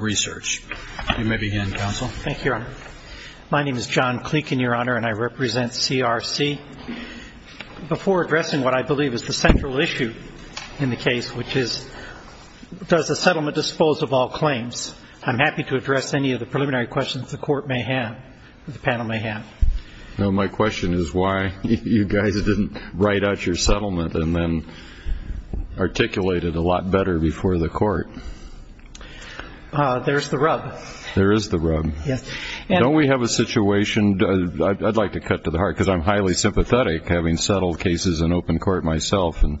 Research. You may begin, Counsel. Thank you, Your Honor. My name is John Klinkin, Your Honor, and I represent CRC. Before addressing what I believe is the central issue in the case, which is, does the settlement dispose of all claims, I'm happy to address any of the preliminary questions the Court may have, the panel may have. No, my question is why you guys didn't write out your settlement and then, you know, articulate it a lot better before the Court. There's the rub. There is the rub. Don't we have a situation, I'd like to cut to the heart, because I'm highly sympathetic, having settled cases in open court myself, and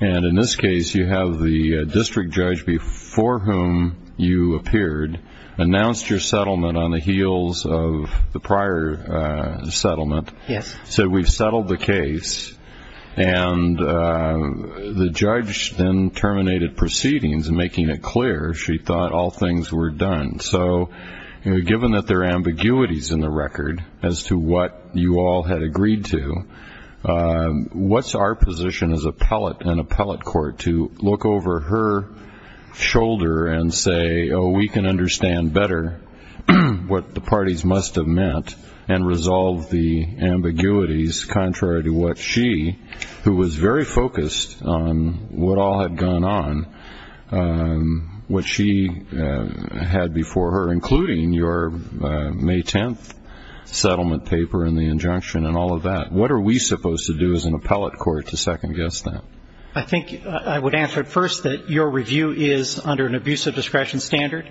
in this case, you have the district judge before whom you appeared, announced your settlement on the heels of the prior settlement, said we've settled the case, and the judge then terminated proceedings, making it clear she thought all things were done. So given that there are ambiguities in the record as to what you all had agreed to, what's our position as an appellate court to look over her shoulder and say, oh, we can assume what all had gone on, what she had before her, including your May 10th settlement paper and the injunction and all of that? What are we supposed to do as an appellate court to second-guess that? I think I would answer first that your review is under an abusive discretion standard.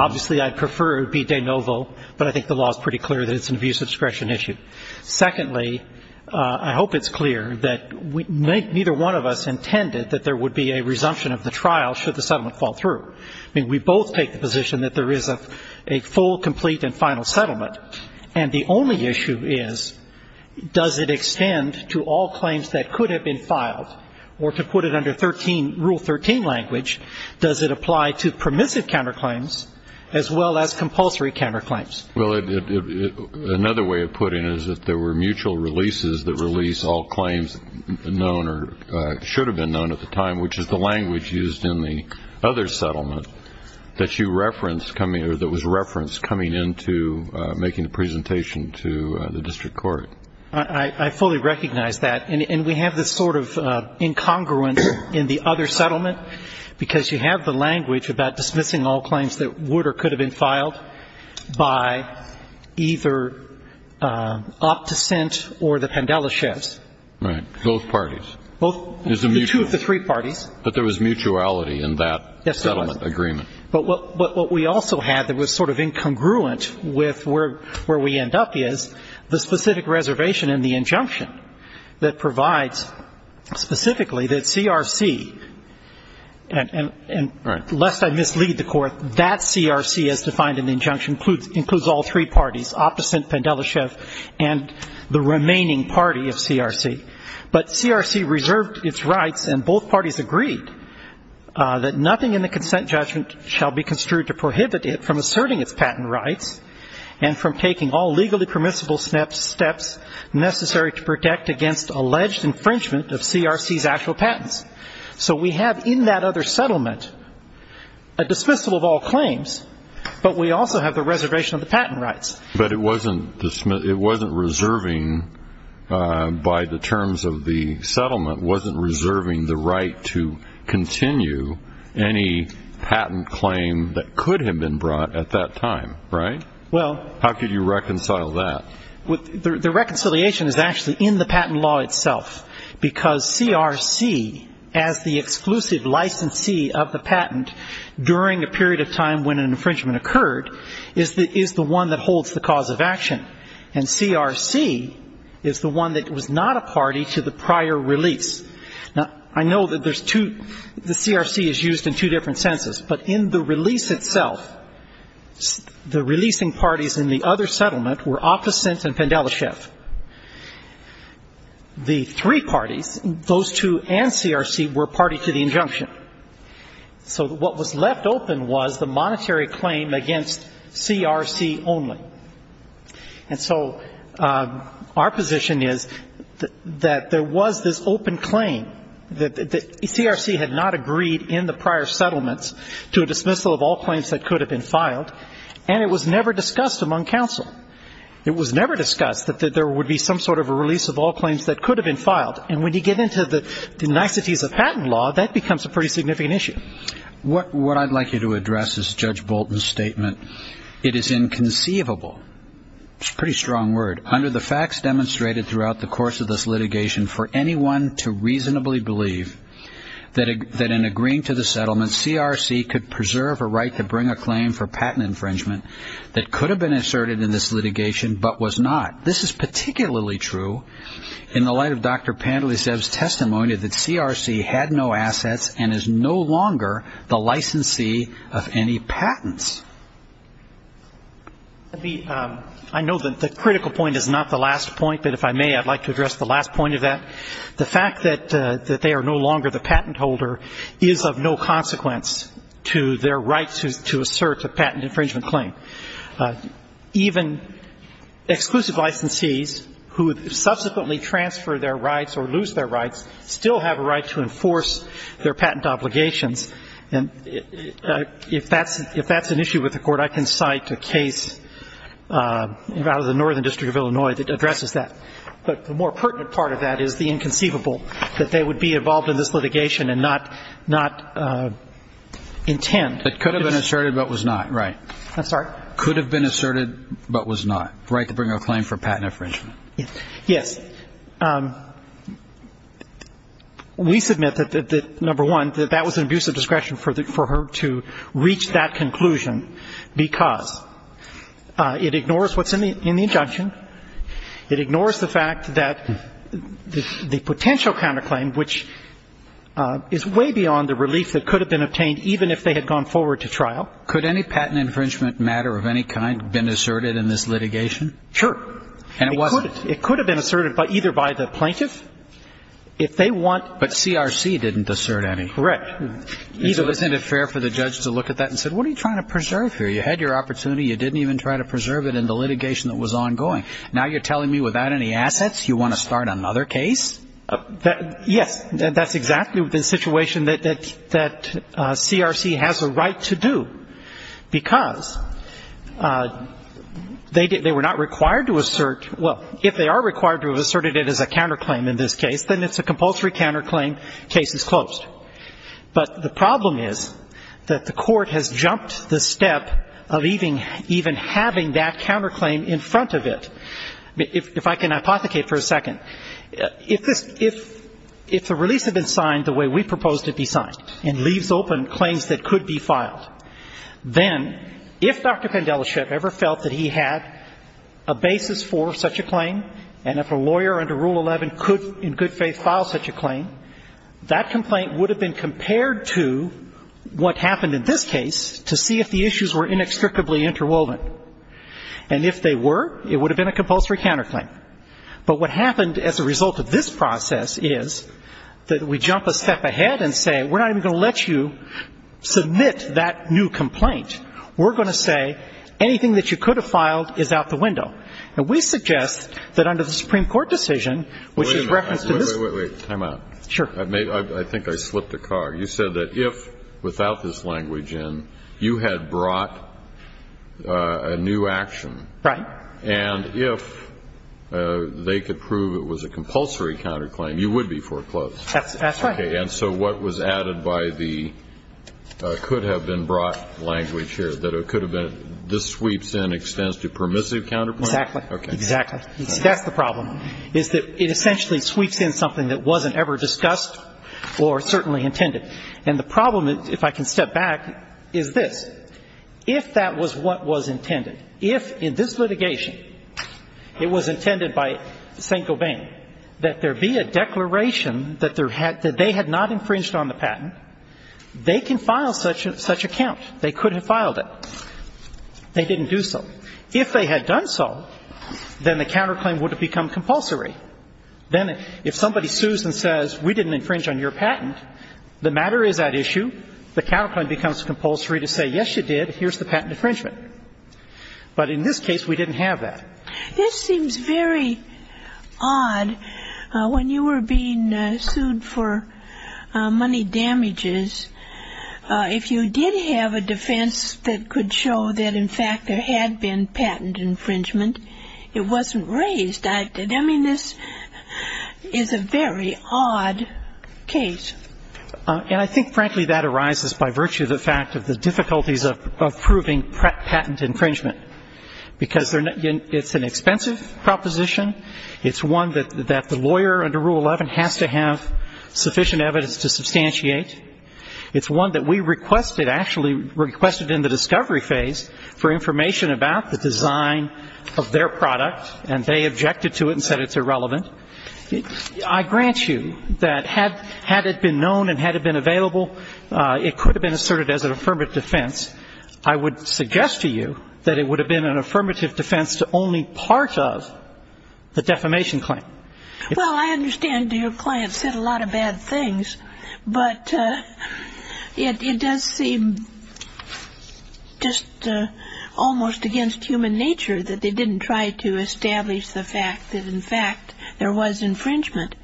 Obviously, I'd prefer it be de novo, but I think the law is pretty clear that it's an abusive discretion issue. Secondly, I hope it's clear that neither one of us intended that there would be a resumption of the trial should the settlement fall through. I mean, we both take the position that there is a full, complete and final settlement, and the only issue is, does it extend to all claims that could have been filed, or to put it under Rule 13 language, does it apply to permissive counterclaims as well as compulsory counterclaims? Well, another way of putting it is that there were mutual releases that release all claims known or should have been known at the time, which is the language used in the other settlement that you referenced coming or that was referenced coming into making the presentation to the district court. I fully recognize that, and we have this sort of incongruence in the other settlement, because you have the language about dismissing all claims that would or could have been filed by either Opticent or the Pandela chefs. Right. Both parties. The two of the three parties. But there was mutuality in that settlement agreement. But what we also had that was sort of incongruent with where we end up is the specific reservation in the injunction that provides specifically that CRC, and lest I mislead the Court, that CRC as defined in the injunction includes all three parties, Opticent, Pandela chef, and the remaining party of CRC. But CRC reserved its rights, and both parties agreed that nothing in the consent judgment shall be construed to prohibit it from asserting its patent rights and from taking all legally permissible steps necessary to protect against alleged infringement of CRC's actual patents. So we have in that other settlement a dismissal of all claims, but we also have the reservation of the patent rights. But it wasn't reserving by the terms of the settlement, wasn't reserving the right to continue any patent claim that could have been brought at that time, right? How could you reconcile that? The reconciliation is actually in the patent law itself, because CRC, as the exclusive licensee of the patent during a period of time when an infringement of a patent is not considered a patent, is not considered a patent. It's the cause of action. And CRC is the one that was not a party to the prior release. Now, I know that there's two the CRC is used in two different senses, but in the release itself, the releasing parties in the other settlement were Opticent and Pendelechev. The three parties, those two and CRC, were party to the injunction. So what was left open was the monetary claim against CRC only. And so our position is that there was this open claim that CRC had not agreed in the prior settlements to a dismissal of all claims that could have been filed, and it was never discussed among counsel. And when you get into the niceties of patent law, that becomes a pretty significant issue. What I'd like you to address is Judge Bolton's statement. It is inconceivable. It's a pretty strong word. Under the facts demonstrated throughout the course of this litigation, for anyone to reasonably believe that in agreeing to the settlement, CRC could preserve a right to the patent is a significant consideration, but was not. This is particularly true in the light of Dr. Pendelechev's testimony that CRC had no assets and is no longer the licensee of any patents. I know that the critical point is not the last point, but if I may, I'd like to address the last point of that. The fact that they are no longer the patent holder is of no consequence to their right to assert a patent infringement claim. Even exclusive licensees who subsequently transfer their rights or lose their rights still have a right to enforce their patent obligations. And if that's an issue with the Court, I can cite a case out of the Northern District of Illinois that addresses that. But the more pertinent part of that is the inconceivable, that they would be involved in this litigation and not intend. It could have been asserted, but was not, right. Yes. We submit that, number one, that that was an abuse of discretion for her to reach that conclusion, because it ignores what's in the case. It ignores the fact that the potential counterclaim, which is way beyond the relief that could have been obtained, even if they had gone forward to trial. Could any patent infringement matter of any kind been asserted in this litigation? Sure. And it wasn't. It could have been asserted either by the plaintiff, if they want. But CRC didn't assert any. Correct. Isn't it fair for the judge to look at that and say, what are you trying to preserve here? You had your opportunity. You didn't even try to assert any assets. You want to start another case? Yes. That's exactly the situation that CRC has a right to do. Because they were not required to assert — well, if they are required to have asserted it as a counterclaim in this case, then it's a compulsory counterclaim. Case is closed. But the problem is that the Court has jumped the step of even having that counterclaim in front of it. If I can hypothecate for a second, if the release had been signed the way we proposed it be signed, and leaves open claims that could be filed, then if Dr. Pendelishev ever felt that he had a basis for such a claim, and if a lawyer under Rule 11 could in good faith file such a claim, that complaint would have been compared to what happened in this case to see if the issues were inextricably interwoven. And if they were, it would have been a compulsory counterclaim. But what happened as a result of this process is that we jump a step ahead and say, we're not even going to let you submit that new complaint. We're going to say anything that you could have filed is out the window. And we suggest that under the Supreme Court decision, which is referenced in this — Wait, wait, wait. Time out. Sure. I think I slipped a cog. You said that if, without this language in, you had brought a new action, and if they could prove it was a compulsory counterclaim, you would be foreclosed. That's right. Okay. And so what was added by the could-have-been-brought language here, that it could have been this sweeps in, extends to permissive counterclaim? Exactly. Exactly. That's the problem, is that it essentially sweeps in something that wasn't ever discussed or certainly intended. And the problem, if I can step back, is this. If that was what was intended, if, in this litigation, it was intended by St. Gobain that there be a declaration that they had not infringed on the patent, they can file such a count. They could have filed a counterclaim, but if they had not, then the counterclaim would have become compulsory. Then if somebody sues and says, we didn't infringe on your patent, the matter is at issue, the counterclaim becomes compulsory to say, yes, you did, here's the patent infringement. But in this case, we didn't have that. This seems very odd. When you were being sued for money damages, if you did have a defense that could show that, in fact, there had been patent infringement, it wasn't raised. I mean, this is a very odd case. And I think, frankly, that arises by virtue of the fact of the difficulties of proving patent infringement, because it's an expensive proposition. It's one that the lawyer under Rule 11 has to have sufficient evidence to substantiate. It's one that we requested, actually requested in the discovery phase for information about the design of their product, and they objected to it and said it's irrelevant. I grant you that had it been known and had it been available, it could have been asserted as an affirmative defense. I would suggest to you that it would have been an affirmative defense to only part of the defamation claim. Well, I understand your client said a lot of bad things, but it does seem just almost against human nature that they didn't try to establish the fact that, in fact, there was infringement.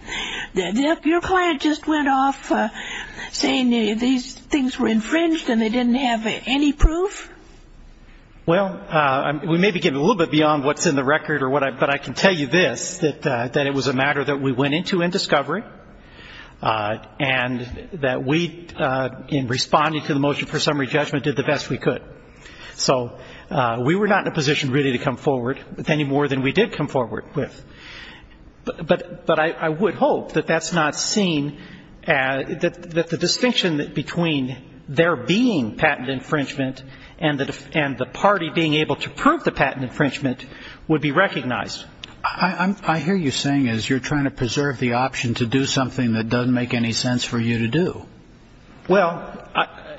Your client just went off saying these things were infringed and they didn't have any proof? Well, we may be getting a little bit beyond what's in the record, but I can tell you this, that it was a matter that we went into in discovery, and that we, in responding to the motion for summary judgment, did the best we could. So we were not in a position really to come forward with any more than we did come forward with. But I would hope that that's not seen, that the distinction between there being patent infringement and the party being able to prove the patent infringement would be recognized. I hear you saying as you're trying to preserve the option to do something that doesn't make any sense for you to do. Well,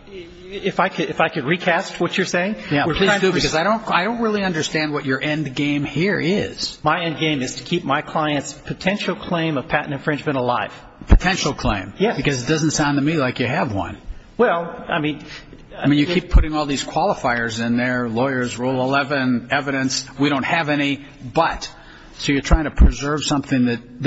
if I could recast what you're saying. I don't really understand what your end game here is. My end game is to keep my client's potential claim of patent infringement alive. Potential claim? Because it doesn't sound to me like you have one. I mean, you keep putting all these qualifiers in there, lawyers, rule 11, evidence, we don't have any, but. So you're trying to preserve something that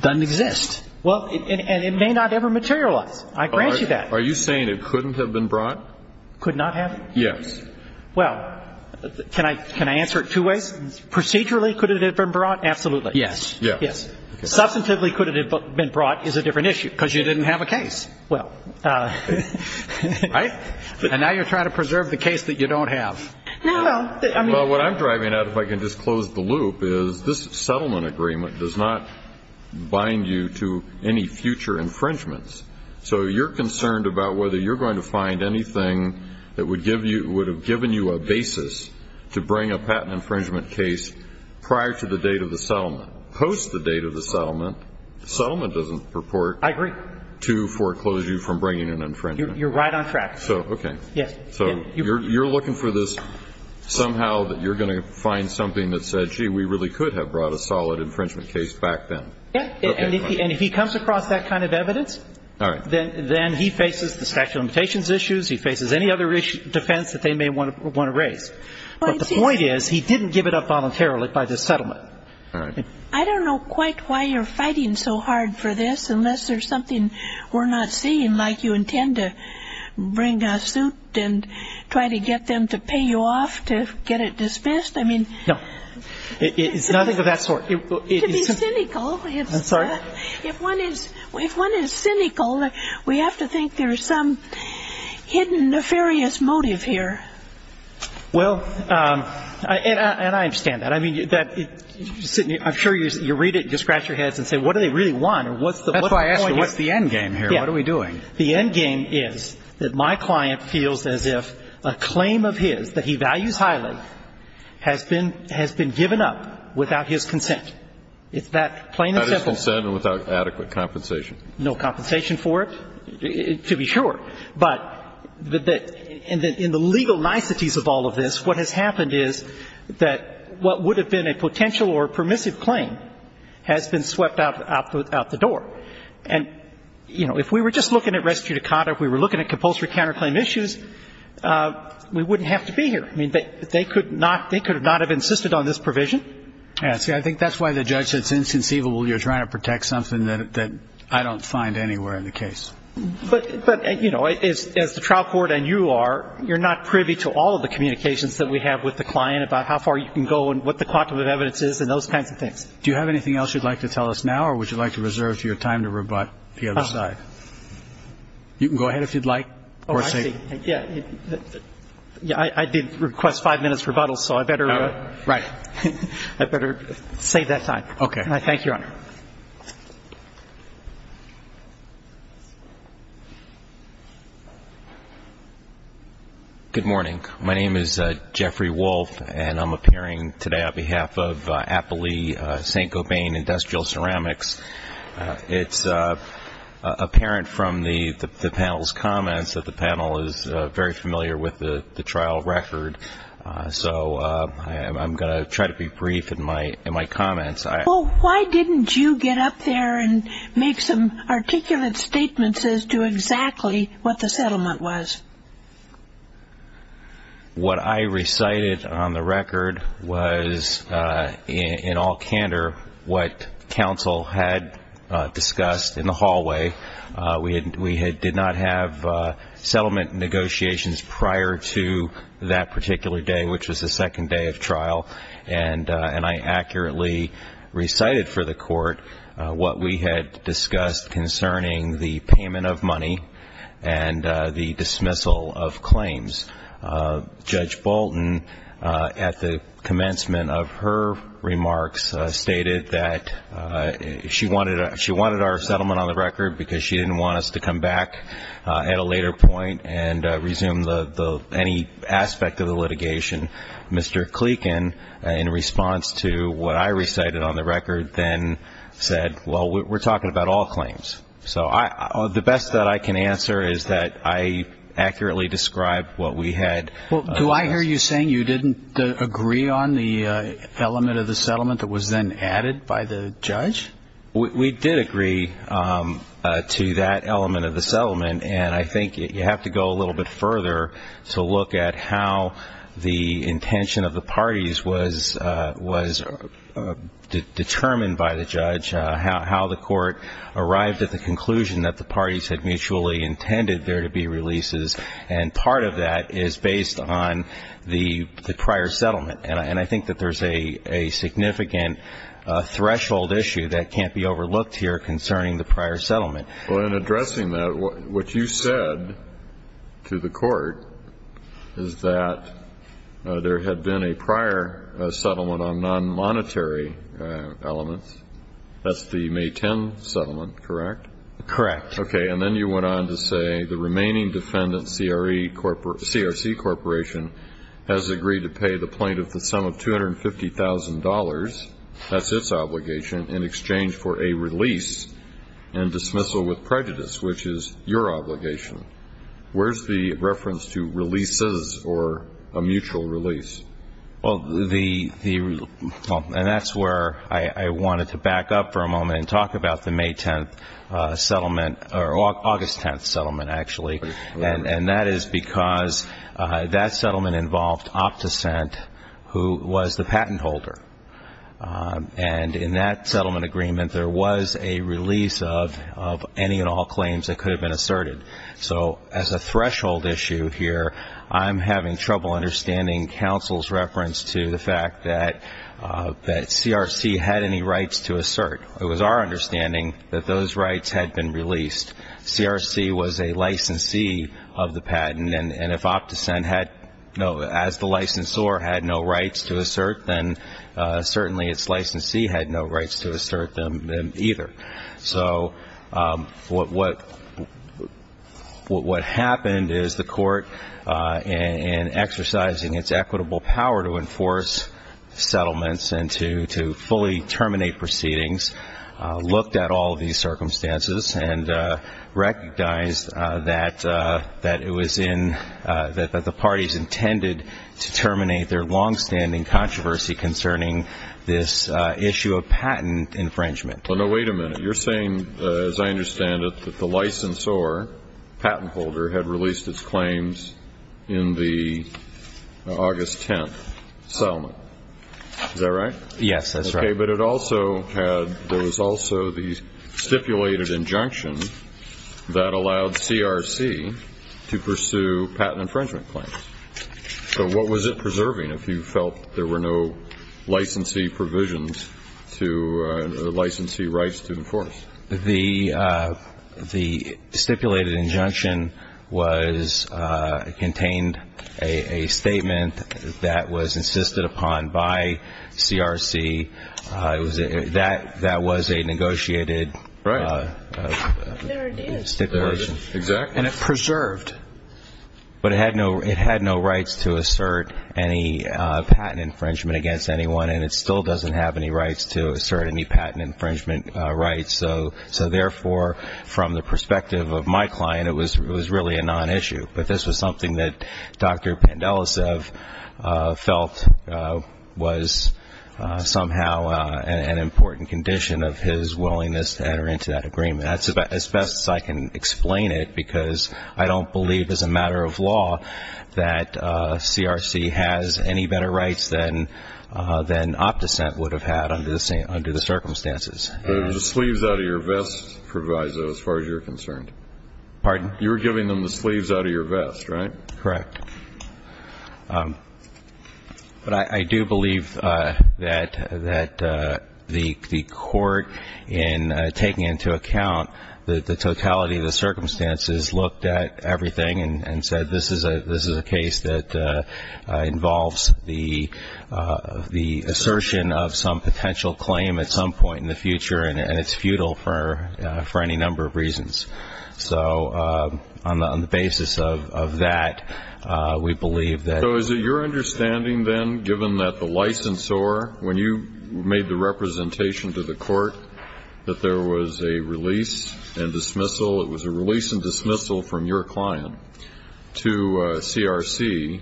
doesn't exist. Well, and it may not ever materialize. I grant you that. Are you saying it couldn't have been brought? Could not have? Yes. Well, can I answer it two ways? Procedurally, could it have been brought? Absolutely. Yes. Yes. Substantively, could it have been brought is a different issue, because you didn't have a case. Well. Right? And now you're trying to preserve the case that you don't have. Well, what I'm driving at, if I can just close the loop, is this settlement agreement does not bind you to any future infringements. So you're concerned about whether you're going to find anything that would have given you a basis to bring a patent infringement case prior to the date of the settlement. Post the date of the settlement, the settlement doesn't purport to foreclose you from bringing an infringement. You're right on track. So you're looking for this somehow that you're going to find something that says, gee, we really could have brought a solid infringement case back then. Yeah. And if he comes across that kind of evidence, then he faces the statute of limitations issues. He faces any other defense that they may want to raise. But the point is, he didn't give it up voluntarily by the settlement. I don't know quite why you're fighting so hard for this, unless there's something we're not seeing, like you intend to bring a suit and try to get them to pay you off to get it dismissed. I mean... No. It's nothing of that sort. To be cynical, if one is cynical, we have to think there's some hidden nefarious motive here. Well, and I understand that. I mean, I'm sure you read it, you scratch your heads and say, what do they really want? That's why I ask you, what's the end game here? What are we doing? The end game is that my client feels as if a claim of his that he values highly has been given up without his consent. It's that plain and simple. Without his consent and without adequate compensation. No compensation for it, to be sure. But in the legal niceties of all of this, what has happened is that what would have been a potential or permissive claim has been swept out the door. And, you know, if we were just looking at res judicata, if we were looking at compulsory counterclaim issues, we wouldn't have to be here. I mean, they could not have insisted on this provision. See, I think that's why the judge said it's inconceivable you're trying to protect something that I don't find anywhere in the case. But, you know, as the trial court and you are, you're not privy to all of the communications that we have with the client about how far you can go and what the quantum of evidence is and those kinds of things. Do you have anything else you'd like to tell us now or would you like to reserve your time to rebut the other side? You can go ahead if you'd like. I did request five minutes rebuttal, so I better save that time. Thank you, Your Honor. Good morning. My name is Jeffrey Wolf, and I'm appearing today on behalf of Appley St. Gobain Industrial Ceramics. It's apparent from the panel's comments that the panel is very familiar with the trial record, so I'm going to try to be brief in my comments. Well, why didn't you get up there and make some articulate statements as to exactly what the settlement was? What I recited on the record was, in all candor, what counsel had discussed in the hallway. We did not have settlement negotiations prior to that particular day, which was the second day of trial. And I accurately recited for the court what we had discussed concerning the payment of money and the dismissal of claims. Judge Bolton, at the commencement of her remarks, stated that she wanted our settlement on the record because she didn't want us to come back at a later point and resume any aspect of the litigation. Mr. Kleekin, in response to what I recited on the record, then said, well, we're talking about all claims. So the best that I can answer is that I accurately described what we had. Well, do I hear you saying you didn't agree on the element of the settlement that was then added by the judge? We did agree to that element of the settlement, and I think you have to go a little bit further to look at how the settlement was determined, how the intention of the parties was determined by the judge, how the court arrived at the conclusion that the parties had mutually intended there to be releases. And part of that is based on the prior settlement. And I think that there's a significant threshold issue that can't be overlooked here concerning the prior settlement. Well, in addressing that, what you said to the court is that, you know, it's not just a matter of the settlement. There had been a prior settlement on non-monetary elements. That's the May 10 settlement, correct? Correct. Okay. And then you went on to say the remaining defendant, CRC Corporation, has agreed to pay the plaintiff the sum of $250,000, that's its obligation, in exchange for a release and dismissal with prejudice, which is your obligation. Where's the reference to releases or a mutual release? Well, and that's where I wanted to back up for a moment and talk about the May 10 settlement, or August 10 settlement, actually. And that is because that settlement involved Opticent, who was the patent holder. And in that settlement agreement, there was a release of any and all claims that could have been asserted. So as a threshold issue here, I'm having trouble understanding counsel's reference to the fact that CRC had any rights to assert. It was our understanding that those rights had been released. CRC was a licensee of the patent, and if Opticent had, as the licensor, had no rights to assert, then certainly its licensee had no rights to assert them either. So what happened is the court, in exercising its equitable power to enforce settlements and to fully terminate proceedings, looked at all of these circumstances and recognized that it was in, that the parties intended to terminate their longstanding controversy concerning this issue of patent infringement. Well, no, wait a minute. You're saying, as I understand it, that the licensor, patent holder, had released its claims in the August 10 settlement. Is that right? Yes, that's right. Okay, but it also had, there was also the stipulated injunction that allowed CRC to pursue patent infringement claims. So what was it preserving, if you felt there were no licensee provisions to licensee claims? The stipulated injunction contained a statement that was insisted upon by CRC that was a negotiated stipulation, and it preserved, but it had no rights to assert any patent infringement against anyone, and it still doesn't have any rights to assert any patent infringement against anyone. So therefore, from the perspective of my client, it was really a non-issue. But this was something that Dr. Pandelicev felt was somehow an important condition of his willingness to enter into that agreement. As best as I can explain it, because I don't believe as a matter of law that CRC has any better rights than OptiSent would have had under the circumstances. The sleeves out of your vest provides those, as far as you're concerned. Pardon? You're giving them the sleeves out of your vest, right? Correct. But I do believe that the Court, in taking into account the totality of the circumstances, looked at everything and said this is a case that involves the assertion of some potential claim at some point in the future. And it's futile for any number of reasons. So on the basis of that, we believe that... So is it your understanding, then, given that the licensor, when you made the representation to the Court, that there was a release and dismissal, it was a release and dismissal from your client to CRC,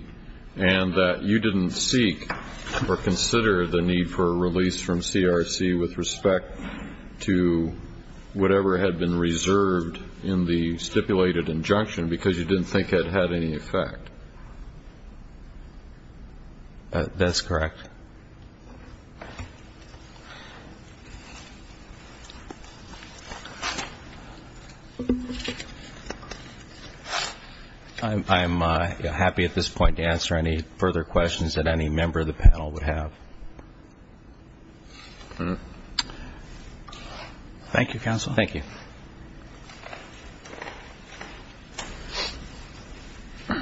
and that you didn't seek or consider the need for a release from CRC with respect to the patent infringement? To whatever had been reserved in the stipulated injunction, because you didn't think it had any effect? That's correct. I'm happy at this point to answer any further questions that any member of the panel would have. Thank you, Counsel. Thank you. It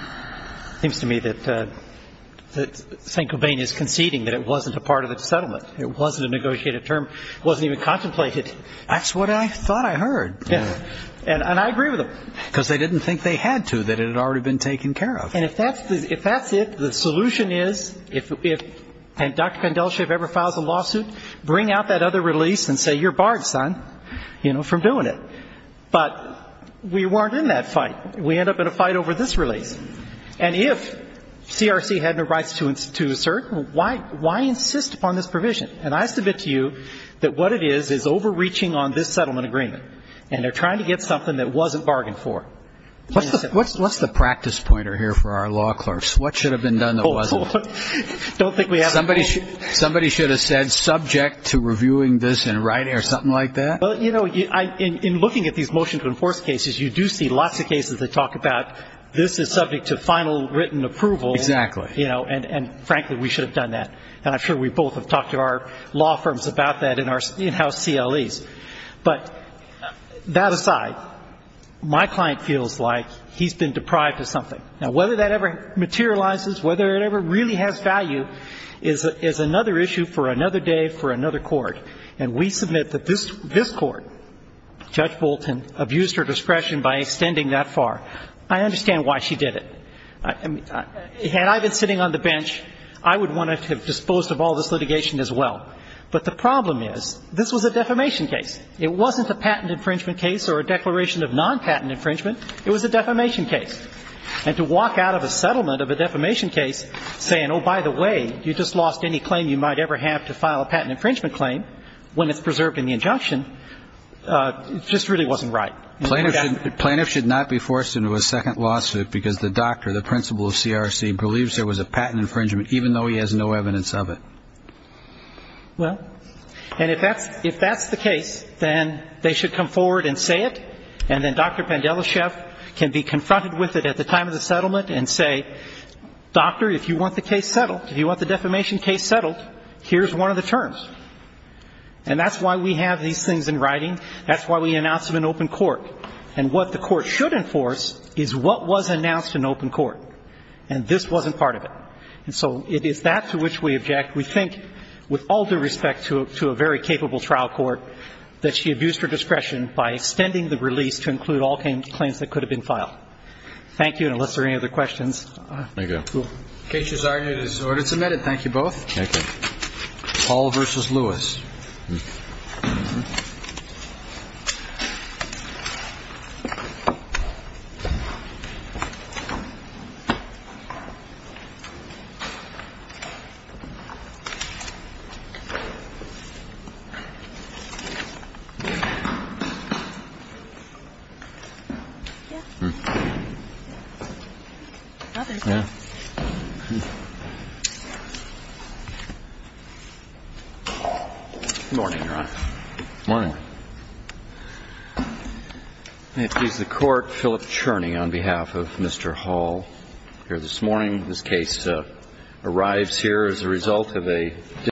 seems to me that St. Gobain is conceding that it wasn't a part of the settlement. It wasn't a negotiated term. It wasn't even contemplated. That's what I thought I heard. And I agree with him. Because they didn't think they had to, that it had already been taken care of. And if that's it, the solution is, if Dr. Kondelshev ever files a lawsuit, bring out that other release and say, you're barred, son, from doing it. But we weren't in that fight. We end up in a fight over this release. And if CRC had no rights to assert, why insist upon this provision? And I submit to you that what it is, is overreaching on this settlement agreement. And they're trying to get something that wasn't bargained for. What's the practice pointer here for our law clerks? What should have been done that wasn't? Somebody should have said, subject to reviewing this in writing or something like that? In looking at these motion to enforce cases, you do see lots of cases that talk about, this is subject to final written approval. And frankly, we should have done that. And I'm sure we both have talked to our law firms about that in our in-house CLEs. But that aside, my client feels like he's been deprived of something. Now, whether that ever materializes, whether it ever really has value, is another issue for another day for another court. And we submit that this court, Judge Bolton, abused her discretion by extending that far. I understand why she did it. Had I been sitting on the bench, I would want to have disposed of all this litigation as well. But the problem is, this was a defamation case. It wasn't a patent infringement case or a declaration of non-patent infringement. It was a defamation case. And to walk out of a settlement of a defamation case saying, oh, by the way, you just lost any claim you might ever have to file a patent infringement claim when it's preserved in the injunction, just really wasn't right. Plaintiff should not be forced into a second lawsuit because the doctor, the principal of CRC, believes there was a patent infringement, even though he has no evidence of it. Well, and if that's the case, then they should come forward and say it. And then Dr. Pandelechev can be confronted with it at the time of the settlement and say, doctor, if you want the case settled, if you want the defamation case settled, here's one of the terms. And that's why we have these things in writing. That's why we announced it in open court. And what the court should enforce is what was announced in open court. And this wasn't part of it. And so it is that to which we object. We think, with all due respect to a very capable trial court, that she abused her discretion by extending the release to include all claims that could have been filed. Thank you, and unless there are any other questions. Thank you. Thank you. Good morning, Your Honor. Good morning.